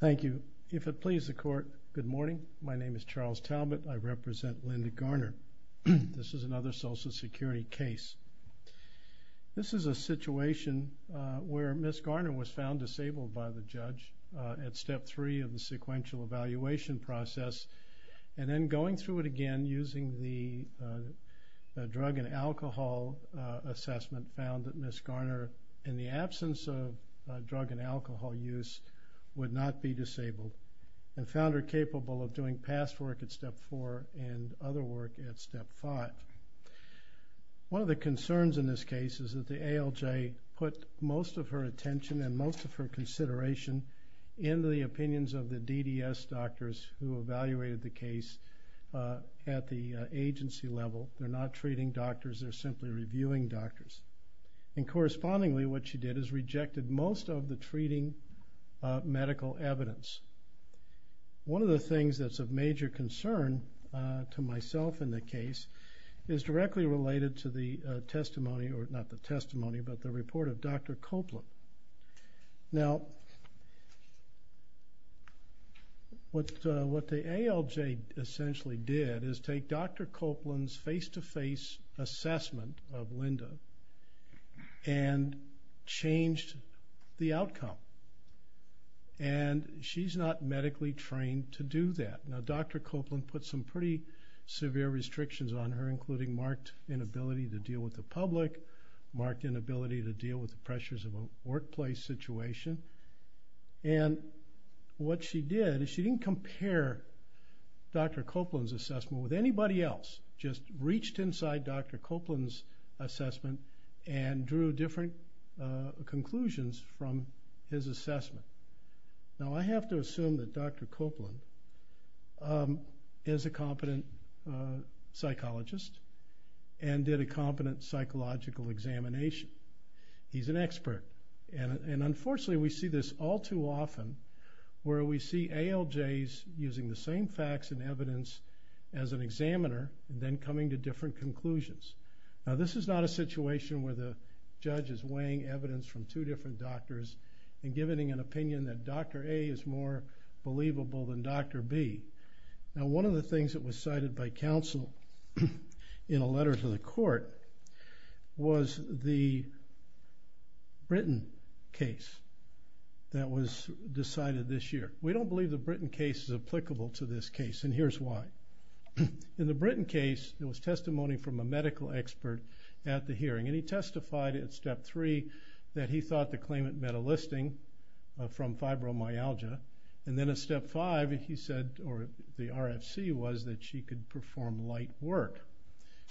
Thank you. If it pleases the court, good morning. My name is Charles Talbot. I represent Linda Garner. This is another Social Security case. This is a situation where Ms. Garner was found disabled by the judge at Step 3 of the sequential evaluation process. And then going through it again using the drug and alcohol assessment, found that Ms. Garner, in the absence of drug and alcohol use, would not be disabled. And found her capable of doing past work at Step 4 and other work at Step 5. One of the concerns in this case is that the ALJ put most of her attention and most of her consideration into the opinions of the DDS doctors who evaluated the case at the agency level. They're not treating doctors, they're simply reviewing doctors. And correspondingly, what she did is rejected most of the treating medical evidence. One of the things that's of major concern to myself in the case is directly related to the testimony, not the testimony, but the report of Dr. Copeland. Now, what the ALJ essentially did is take Dr. Copeland's face-to-face assessment of Linda and changed the outcome. And she's not medically trained to do that. Now, Dr. Copeland put some pretty severe restrictions on her, including marked inability to deal with the public, marked inability to deal with the pressures of a workplace situation. And what she did is she didn't compare Dr. Copeland's assessment with anybody else, just reached inside Dr. Copeland's assessment and drew different conclusions from his assessment. Now, I have to assume that Dr. Copeland is a competent psychologist and did a competent psychological examination. He's an expert. And unfortunately, we see this all too often, where we see ALJs using the same facts and evidence as an examiner and then coming to different conclusions. Now, this is not a situation where the judge is weighing evidence from two different doctors and giving an opinion that Dr. A is more believable than Dr. B. Now, one of the things that was cited by counsel in a letter to the court was the Britain case that was decided this year. We don't believe the Britain case is applicable to this case, and here's why. In the Britain case, there was testimony from a medical expert at the hearing, and he testified at Step 3 that he thought the claimant met a listing from fibromyalgia. And then at Step 5, he said, or the RFC was, that she could perform light work.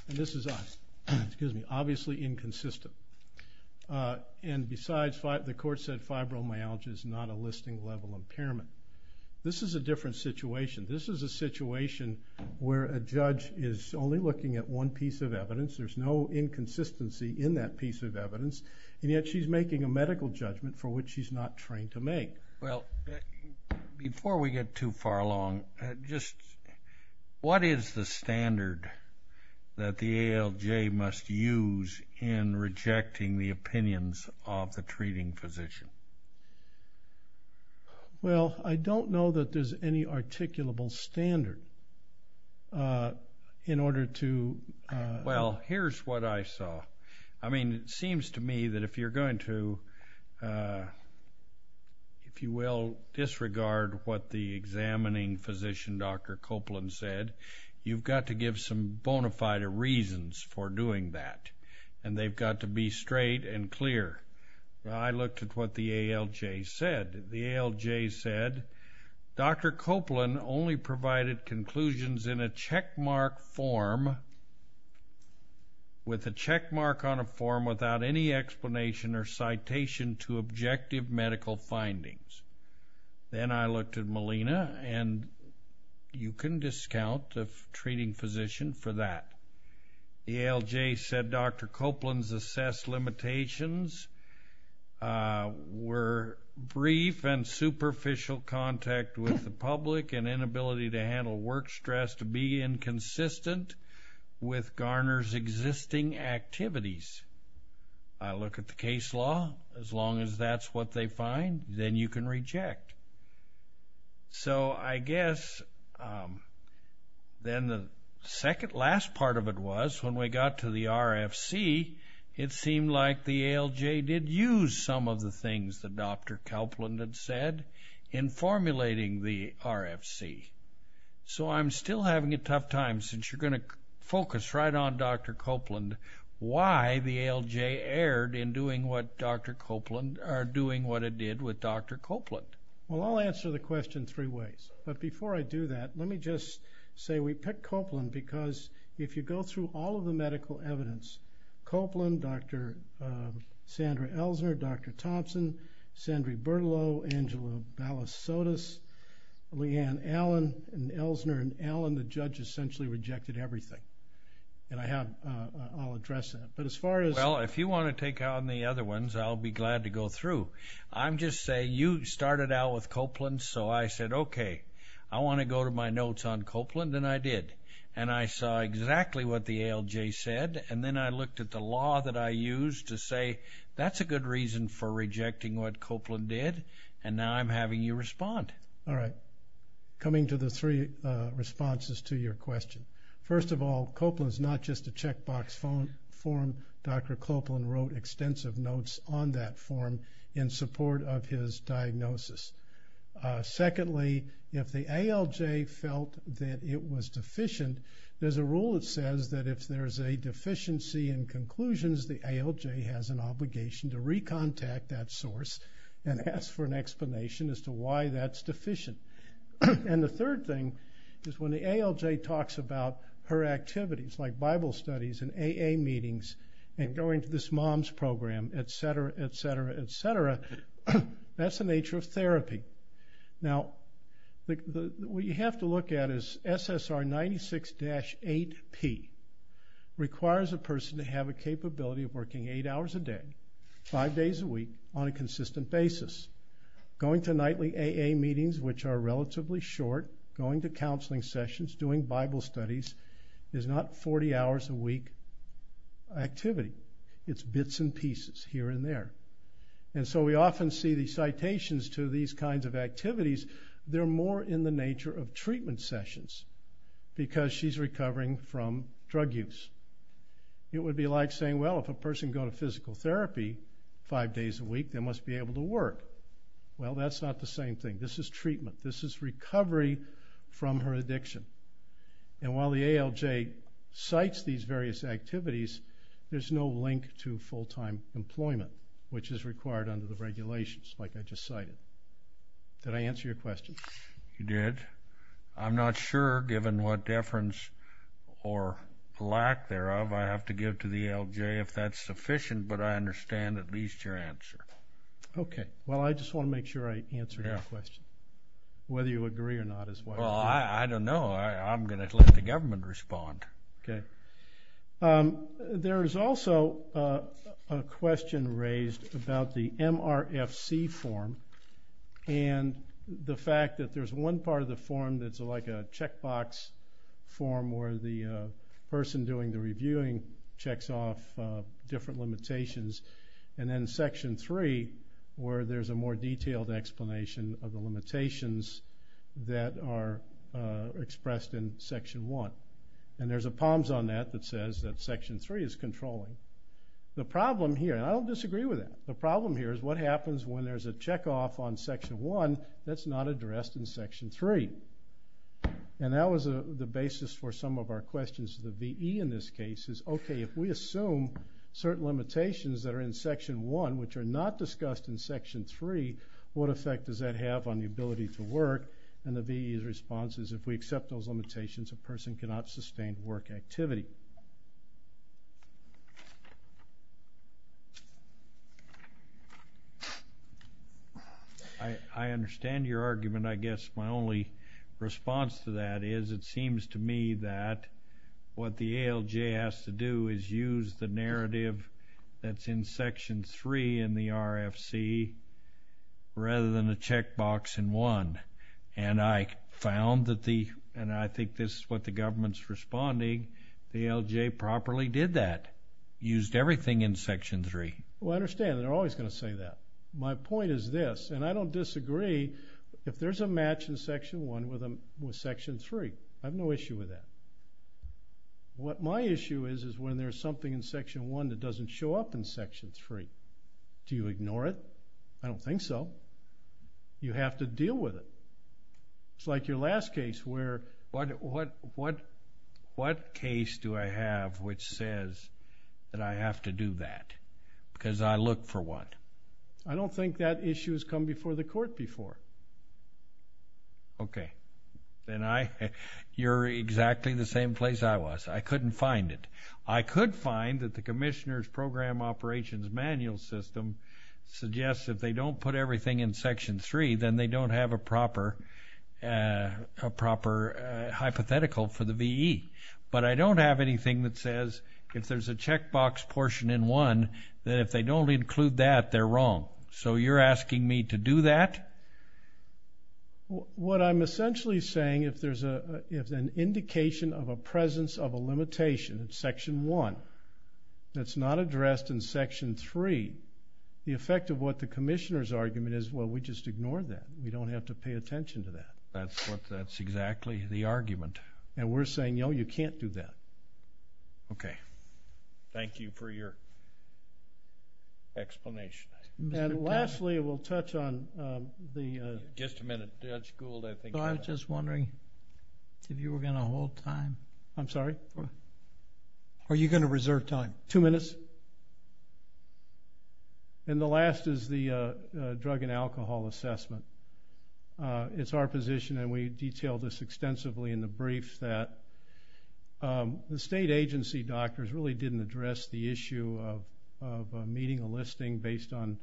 And this is obviously inconsistent. And besides, the court said fibromyalgia is not a listing-level impairment. This is a different situation. This is a situation where a judge is only looking at one piece of evidence. There's no inconsistency in that piece of evidence, and yet she's making a medical judgment for which she's not trained to make. Well, before we get too far along, just what is the standard that the ALJ must use in rejecting the opinions of the treating physician? Well, I don't know that there's any articulable standard in order to— Well, here's what I saw. I mean, it seems to me that if you're going to, if you will, disregard what the examining physician, Dr. Copeland, said, you've got to give some bona fide reasons for doing that, and they've got to be straight and clear. I looked at what the ALJ said. The ALJ said, Dr. Copeland only provided conclusions in a checkmark form, with a checkmark on a form without any explanation or citation to objective medical findings. Then I looked at Melina, and you can discount the treating physician for that. The ALJ said Dr. Copeland's assessed limitations were brief and superficial contact with the public and inability to handle work stress to be inconsistent with Garner's existing activities. I look at the case law. As long as that's what they find, then you can reject. So, I guess, then the second last part of it was, when we got to the RFC, it seemed like the ALJ did use some of the things that Dr. Copeland had said in formulating the RFC. So, I'm still having a tough time, since you're going to focus right on Dr. Copeland, why the ALJ erred in doing what Dr. Copeland, or doing what it did with Dr. Copeland. Well, I'll answer the question three ways. But before I do that, let me just say, we picked Copeland, because if you go through all of the medical evidence, Copeland, Dr. Sandra Elsner, Dr. Thompson, Sandra Bertolo, Angela Ballas-Sotis, Leanne Allen, and Elsner and Allen, the judge essentially rejected everything. And I have, I'll address that. But as far as... Well, if you want to take on the other ones, I'll be glad to go through. I'm just saying, you started out with Copeland, so I said, okay, I want to go to my notes on Copeland, and I did. And I saw exactly what the ALJ said, and then I looked at the law that I used to say, that's a good reason for rejecting what Copeland did, and now I'm having you respond. All right. Coming to the three responses to your question. First of all, Copeland's not just a checkbox form. Dr. Copeland wrote extensive notes on that form in support of his diagnosis. Secondly, if the ALJ felt that it was deficient, there's a rule that says that if there's a deficiency in conclusions, the ALJ has an obligation to recontact that source and ask for an explanation as to why that's deficient. And the third thing is when the ALJ talks about her activities, like Bible studies and AA meetings and going to this MOMS program, et cetera, et cetera, et cetera, that's the nature of therapy. Now, what you have to look at is SSR 96-8P requires a person to have a capability of working eight hours a day, five days a week, on a consistent basis. Going to nightly AA meetings, which are relatively short, going to counseling sessions, doing Bible studies, is not 40 hours a week activity. It's bits and pieces here and there. And so we often see the citations to these kinds of activities, they're more in the nature of treatment sessions because she's recovering from drug use. It would be like saying, well, if a person go to physical therapy five days a week, they must be able to work. Well, that's not the same thing. This is treatment. This is recovery from her addiction. And while the ALJ cites these various activities, there's no link to full-time employment, which is required under the regulations, like I just cited. Did I answer your question? You did. I'm not sure, given what deference or lack thereof, I have to give to the ALJ if that's sufficient, but I understand at least your answer. Okay. Well, I just want to make sure I answered your question. Whether you agree or not is what I'm doing. Well, I don't know. I'm going to let the government respond. Okay. There is also a question raised about the MRFC form and the fact that there's one part of the form that's like a checkbox form where the person doing the reviewing checks off different limitations, and then Section 3 where there's a more detailed explanation of the limitations that are expressed in Section 1. And there's a POMS on that that says that Section 3 is controlling. The problem here, and I don't disagree with that, the problem here is what happens when there's a checkoff on Section 1 that's not addressed in Section 3. And that was the basis for some of our questions to the VE in this case is, okay, if we assume certain limitations that are in Section 1 which are not discussed in Section 3, what effect does that have on the ability to work? And the VE's response is if we accept those limitations, a person cannot sustain work activity. I understand your argument. I guess my only response to that is it seems to me that what the ALJ has to do is use the narrative that's in Section 3 in the RFC rather than a checkbox in 1. And I found that the—and I think this is what the government's responding—the ALJ properly did that, used everything in Section 3. Well, I understand. They're always going to say that. My point is this, and I don't disagree if there's a match in Section 1 with Section 3. I have no issue with that. What my issue is is when there's something in Section 1 that doesn't show up in Section 3. Do you ignore it? I don't think so. You have to deal with it. It's like your last case where— What case do I have which says that I have to do that because I look for what? I don't think that issue has come before the court before. Okay. Then I—you're exactly the same place I was. I couldn't find it. I could find that the Commissioner's Program Operations Manual System suggests if they don't put everything in Section 3, then they don't have a proper hypothetical for the VE. But I don't have anything that says if there's a checkbox portion in one, that if they don't include that, they're wrong. So you're asking me to do that? What I'm essentially saying, if there's an indication of a presence of a limitation in Section 1 that's not addressed in Section 3, the effect of what the Commissioner's argument is, well, we just ignore that. We don't have to pay attention to that. That's exactly the argument. And we're saying, no, you can't do that. Okay. Thank you for your explanation. And lastly, we'll touch on the— Just a minute. Judge Gould, I think— I was just wondering if you were going to hold time. I'm sorry? Are you going to reserve time? Two minutes. And the last is the drug and alcohol assessment. It's our position, and we detailed this extensively in the brief, that the state agency doctors really didn't address the issue of meeting a listing based on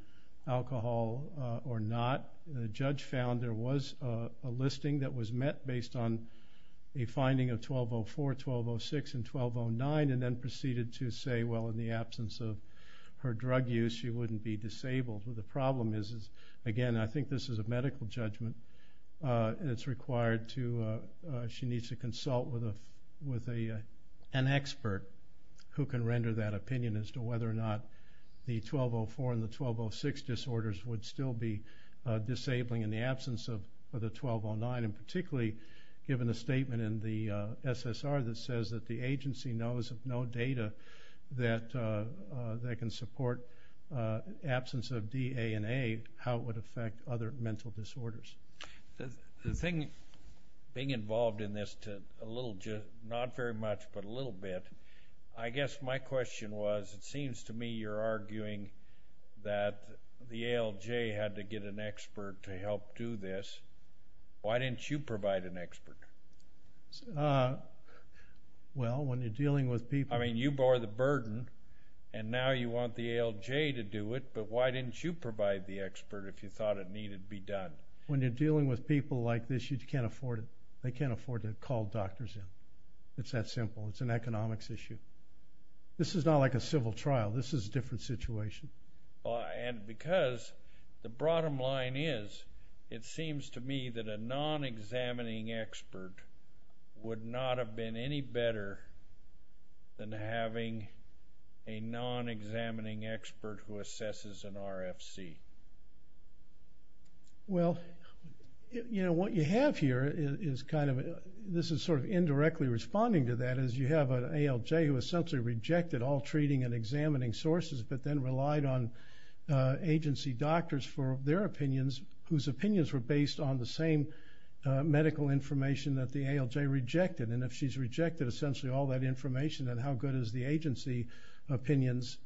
alcohol or not. The judge found there was a listing that was met based on a finding of 1204, 1206, and 1209, and then proceeded to say, well, in the absence of her drug use, she wouldn't be disabled. The problem is, again, I think this is a medical judgment. It's required to—she needs to consult with an expert who can render that opinion as to whether or not the 1204 and the 1206 disorders would still be disabling in the absence of the 1209, and particularly given the statement in the SSR that says that the agency knows of no data that can support the absence of D, A, and A, how it would affect other mental disorders. The thing—being involved in this a little—not very much, but a little bit, I guess my question was, it seems to me you're arguing that the ALJ had to get an expert to help do this. Why didn't you provide an expert? Well, when you're dealing with people— I mean, you bore the burden, and now you want the ALJ to do it, but why didn't you provide the expert if you thought it needed to be done? When you're dealing with people like this, you can't afford it. They can't afford to call doctors in. It's that simple. It's an economics issue. This is not like a civil trial. This is a different situation. And because the bottom line is, it seems to me that a non-examining expert would not have been any better than having a non-examining expert who assesses an RFC. Well, you know, what you have here is kind of— this is sort of indirectly responding to that, is you have an ALJ who essentially rejected all treating and examining sources, but then relied on agency doctors for their opinions, whose opinions were based on the same medical information that the ALJ rejected. And if she's rejected essentially all that information, then how good is the agency opinions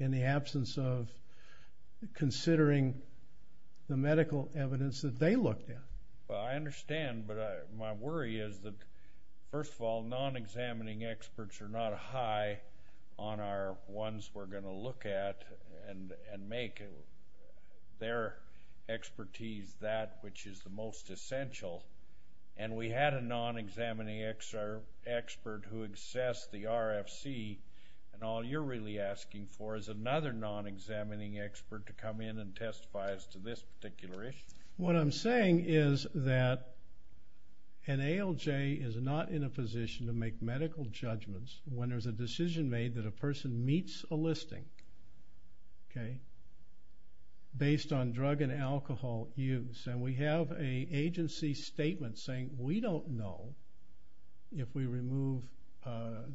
in the absence of considering the medical evidence that they looked at? Well, I understand, but my worry is that, first of all, non-examining experts are not high on our ones we're going to look at and make their expertise that which is the most essential. And we had a non-examining expert who assessed the RFC, and all you're really asking for is another non-examining expert to come in and testify as to this particular issue. What I'm saying is that an ALJ is not in a position to make medical judgments when there's a decision made that a person meets a listing based on drug and alcohol use. And we have an agency statement saying, we don't know if we remove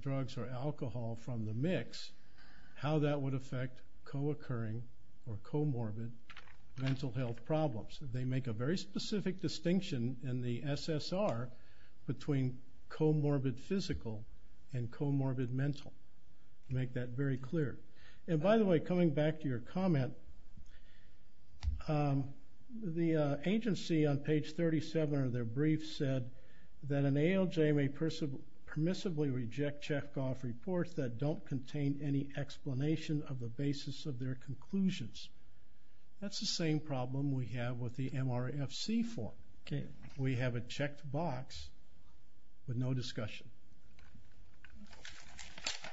drugs or alcohol from the mix, how that would affect co-occurring or comorbid mental health problems. They make a very specific distinction in the SSR between comorbid physical and comorbid mental, to make that very clear. And by the way, coming back to your comment, the agency on page 37 of their brief said that an ALJ may permissibly reject checkoff reports that don't contain any explanation of the basis of their conclusions. That's the same problem we have with the MRFC form. We have a checked box with no discussion.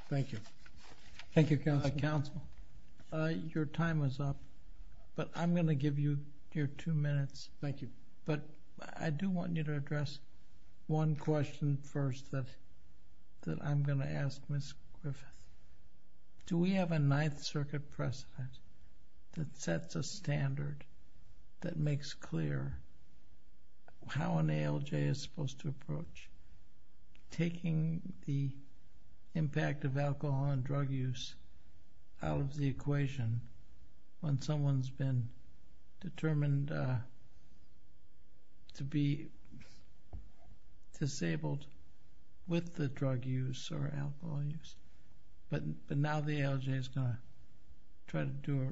Thank you. Thank you, counsel. Counsel, your time is up, but I'm going to give you your two minutes. Thank you. But I do want you to address one question first that I'm going to ask Ms. Griffith. Do we have a Ninth Circuit precedent that sets a standard that makes clear how an ALJ is supposed to approach taking the impact of alcohol and drug use out of the equation when someone's been determined to be disabled with the drug use or alcohol use, but now the ALJ is going to try to do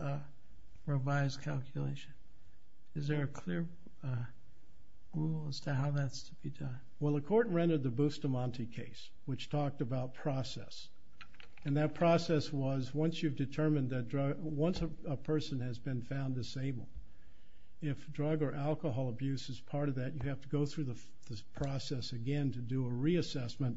a revised calculation? Is there a clear rule as to how that's to be done? Well, the court rendered the Bustamante case, which talked about process. And that process was once you've determined that a person has been found disabled, if drug or alcohol abuse is part of that, you have to go through this process again to do a reassessment,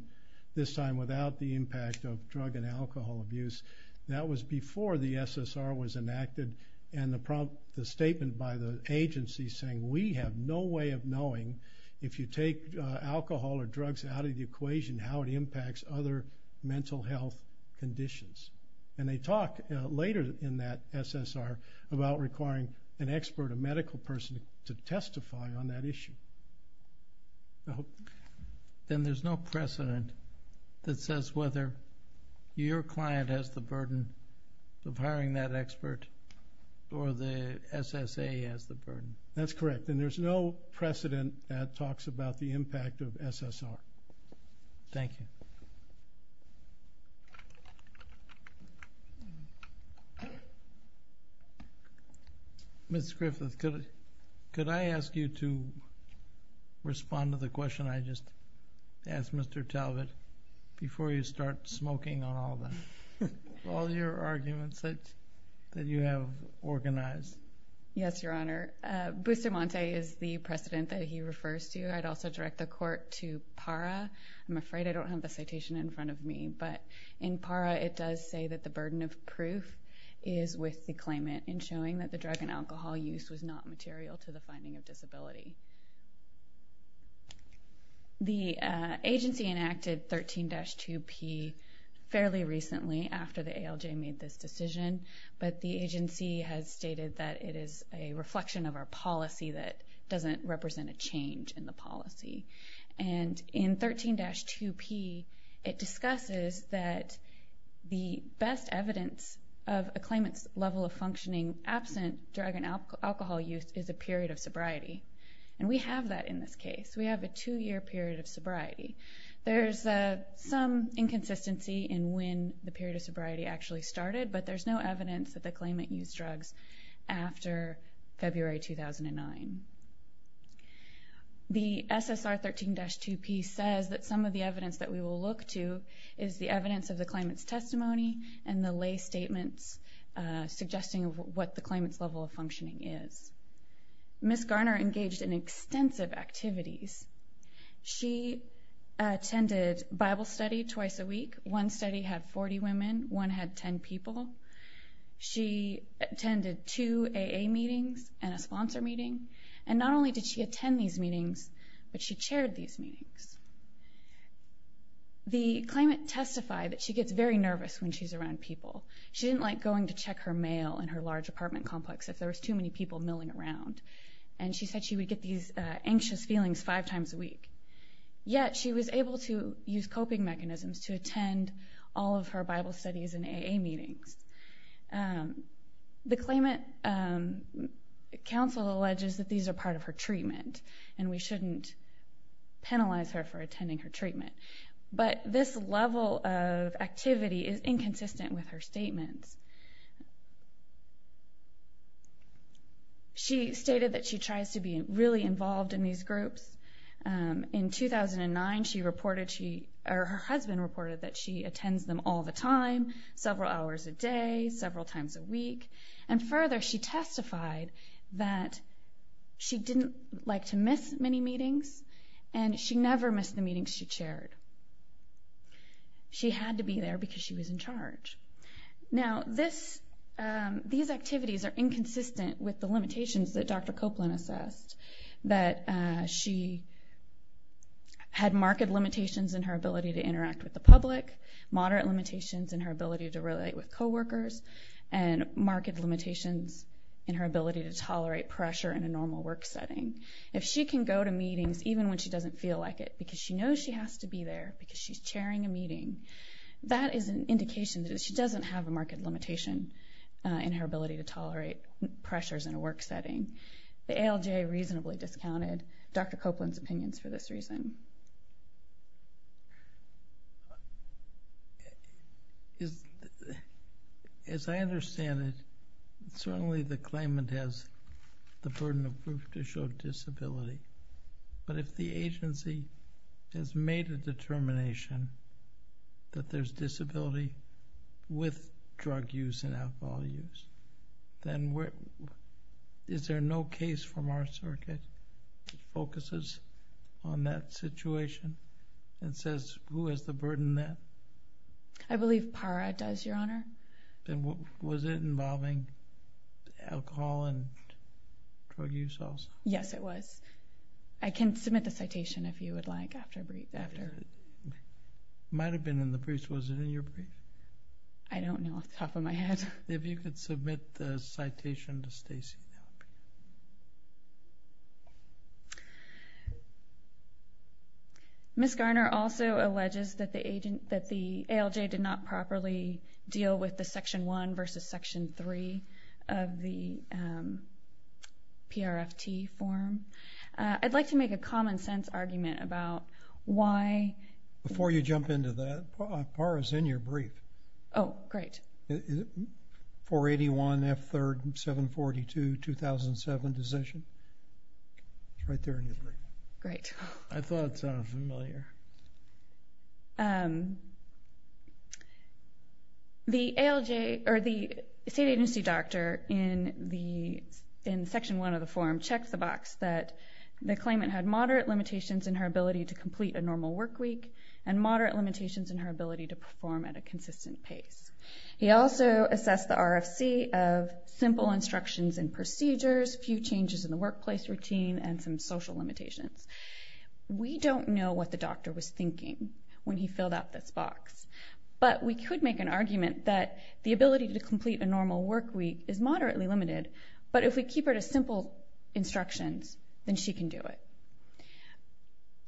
this time without the impact of drug and alcohol abuse. That was before the SSR was enacted and the statement by the agency saying, we have no way of knowing if you take alcohol or drugs out of the equation how it impacts other mental health conditions. And they talk later in that SSR about requiring an expert, a medical person, to testify on that issue. Then there's no precedent that says whether your client has the burden of hiring that expert or the SSA has the burden. That's correct. And there's no precedent that talks about the impact of SSR. Thank you. Ms. Griffith, could I ask you to respond to the question I just asked Mr. Talbott before you start smoking on all your arguments that you have organized? Yes, Your Honor. Bustamante is the precedent that he refers to. I'd also direct the court to PARA. I'm afraid I don't have the citation in front of me, but in PARA it does say that the burden of proof is with the claimant in showing that the drug and alcohol use was not material to the finding of disability. The agency enacted 13-2P fairly recently after the ALJ made this decision, but the agency has stated that it is a reflection of our policy that doesn't represent a change in the policy. And in 13-2P it discusses that the best evidence of a claimant's level of functioning absent drug and alcohol use is a period of sobriety. And we have that in this case. There's some inconsistency in when the period of sobriety actually started, but there's no evidence that the claimant used drugs after February 2009. The SSR 13-2P says that some of the evidence that we will look to is the evidence of the claimant's testimony and the lay statements suggesting what the claimant's level of functioning is. Ms. Garner engaged in extensive activities. She attended Bible study twice a week. One study had 40 women. One had 10 people. She attended two AA meetings and a sponsor meeting. And not only did she attend these meetings, but she chaired these meetings. The claimant testified that she gets very nervous when she's around people. She didn't like going to check her mail in her large apartment complex if there was too many people milling around. And she said she would get these anxious feelings five times a week. Yet she was able to use coping mechanisms to attend all of her Bible studies and AA meetings. The claimant counsel alleges that these are part of her treatment and we shouldn't penalize her for attending her treatment. But this level of activity is inconsistent with her statements. She stated that she tries to be really involved in these groups. In 2009, her husband reported that she attends them all the time, several hours a day, several times a week. And further, she testified that she didn't like to miss many meetings and she never missed the meetings she chaired. She had to be there because she was in charge. Now, these activities are inconsistent with the limitations that Dr. Copeland assessed, that she had marked limitations in her ability to interact with the public, moderate limitations in her ability to relate with coworkers, and marked limitations in her ability to tolerate pressure in a normal work setting. If she can go to meetings even when she doesn't feel like it because she knows she has to be there because she's chairing a meeting, that is an indication that she doesn't have a marked limitation in her ability to tolerate pressures in a work setting. The ALJ reasonably discounted Dr. Copeland's opinions for this reason. As I understand it, certainly the claimant has the burden of proof to show disability. But if the agency has made a determination that there's disability with drug use and alcohol use, then is there no case from our circuit that focuses on that situation and says who has the burden then? I believe PARA does, Your Honor. Was it involving alcohol and drug use also? Yes, it was. I can submit the citation if you would like after I brief. It might have been in the briefs. Was it in your brief? I don't know off the top of my head. If you could submit the citation to Stacey. Ms. Garner also alleges that the ALJ did not properly deal with the Section 1 versus Section 3 of the PRFT form. I'd like to make a common sense argument about why. Before you jump into that, PARA is in your brief. Oh, great. 481 F. 3rd, 742, 2007 decision. It's right there in your brief. Great. I thought it sounded familiar. The state agency doctor in Section 1 of the form checked the box that the claimant had moderate limitations in her ability to complete a normal work week and moderate limitations in her ability to perform at a consistent pace. He also assessed the RFC of simple instructions and procedures, few changes in the workplace routine, and some social limitations. We don't know what the doctor was thinking when he filled out this box, but we could make an argument that the ability to complete a normal work week is moderately limited, but if we keep her to simple instructions, then she can do it.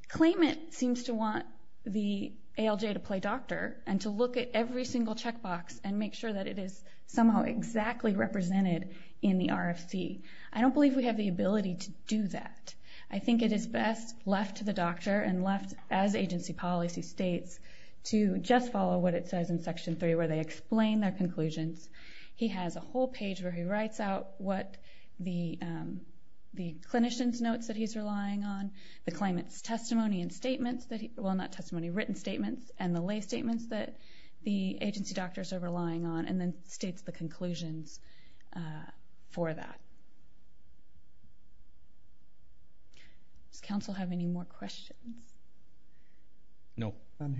Claimant seems to want the ALJ to play doctor and to look at every single checkbox and make sure that it is somehow exactly represented in the RFC. I don't believe we have the ability to do that. I think it is best left to the doctor and left, as agency policy states, to just follow what it says in Section 3 where they explain their conclusions. He has a whole page where he writes out what the clinician's notes that he's relying on, the claimant's written statements, and the lay statements that the agency doctors are relying on, and then states the conclusions for that. Does Council have any more questions? No. I'll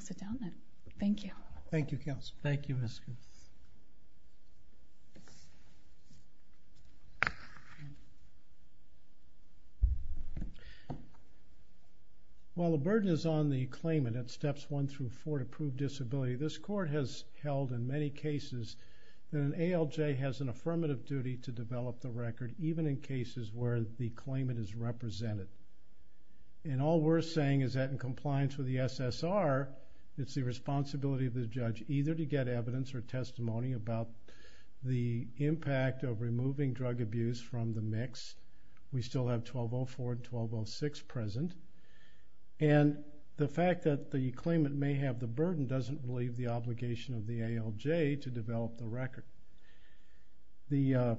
sit down then. Thank you. Thank you, Council. While the burden is on the claimant at steps 1 through 4 to prove disability, this Court has held in many cases that an ALJ has an affirmative duty to develop the record, even in cases where the claimant is represented. And all we're saying is that in compliance with the SSR, it's the responsibility of the judge either to get evidence or testimony about the impact of removing drug abuse from the mix. We still have 1204 and 1206 present. And the fact that the claimant may have the burden doesn't relieve the obligation of the ALJ to develop the record. The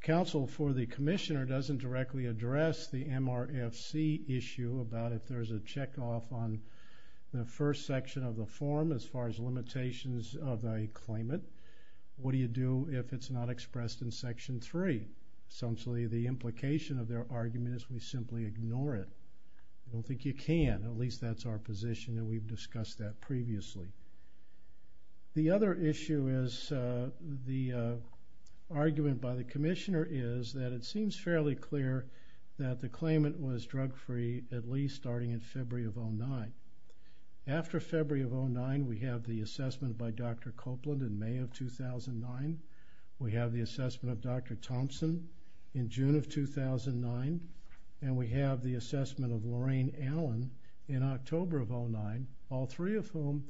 counsel for the commissioner doesn't directly address the MRFC issue about if there's a check-off on the first section of the form as far as limitations of a claimant. What do you do if it's not expressed in Section 3? Essentially, the implication of their argument is we simply ignore it. I don't think you can. At least that's our position, and we've discussed that previously. The other issue is the argument by the commissioner is that it seems fairly clear that the claimant was drug-free, at least starting in February of 2009. After February of 2009, we have the assessment by Dr. Copeland in May of 2009. We have the assessment of Dr. Thompson in June of 2009. And we have the assessment of Lorraine Allen in October of 2009, all three of whom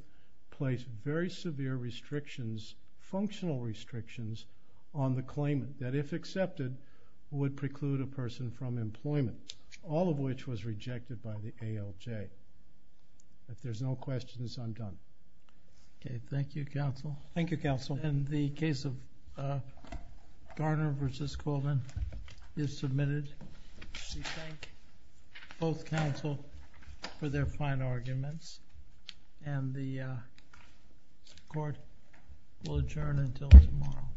placed very severe restrictions, functional restrictions, on the claimant that if accepted would preclude a person from employment, all of which was rejected by the ALJ. If there's no questions, I'm done. Okay, thank you, counsel. Thank you, counsel. And the case of Garner v. Colvin is submitted. We thank both counsel for their fine arguments, and the court will adjourn until tomorrow.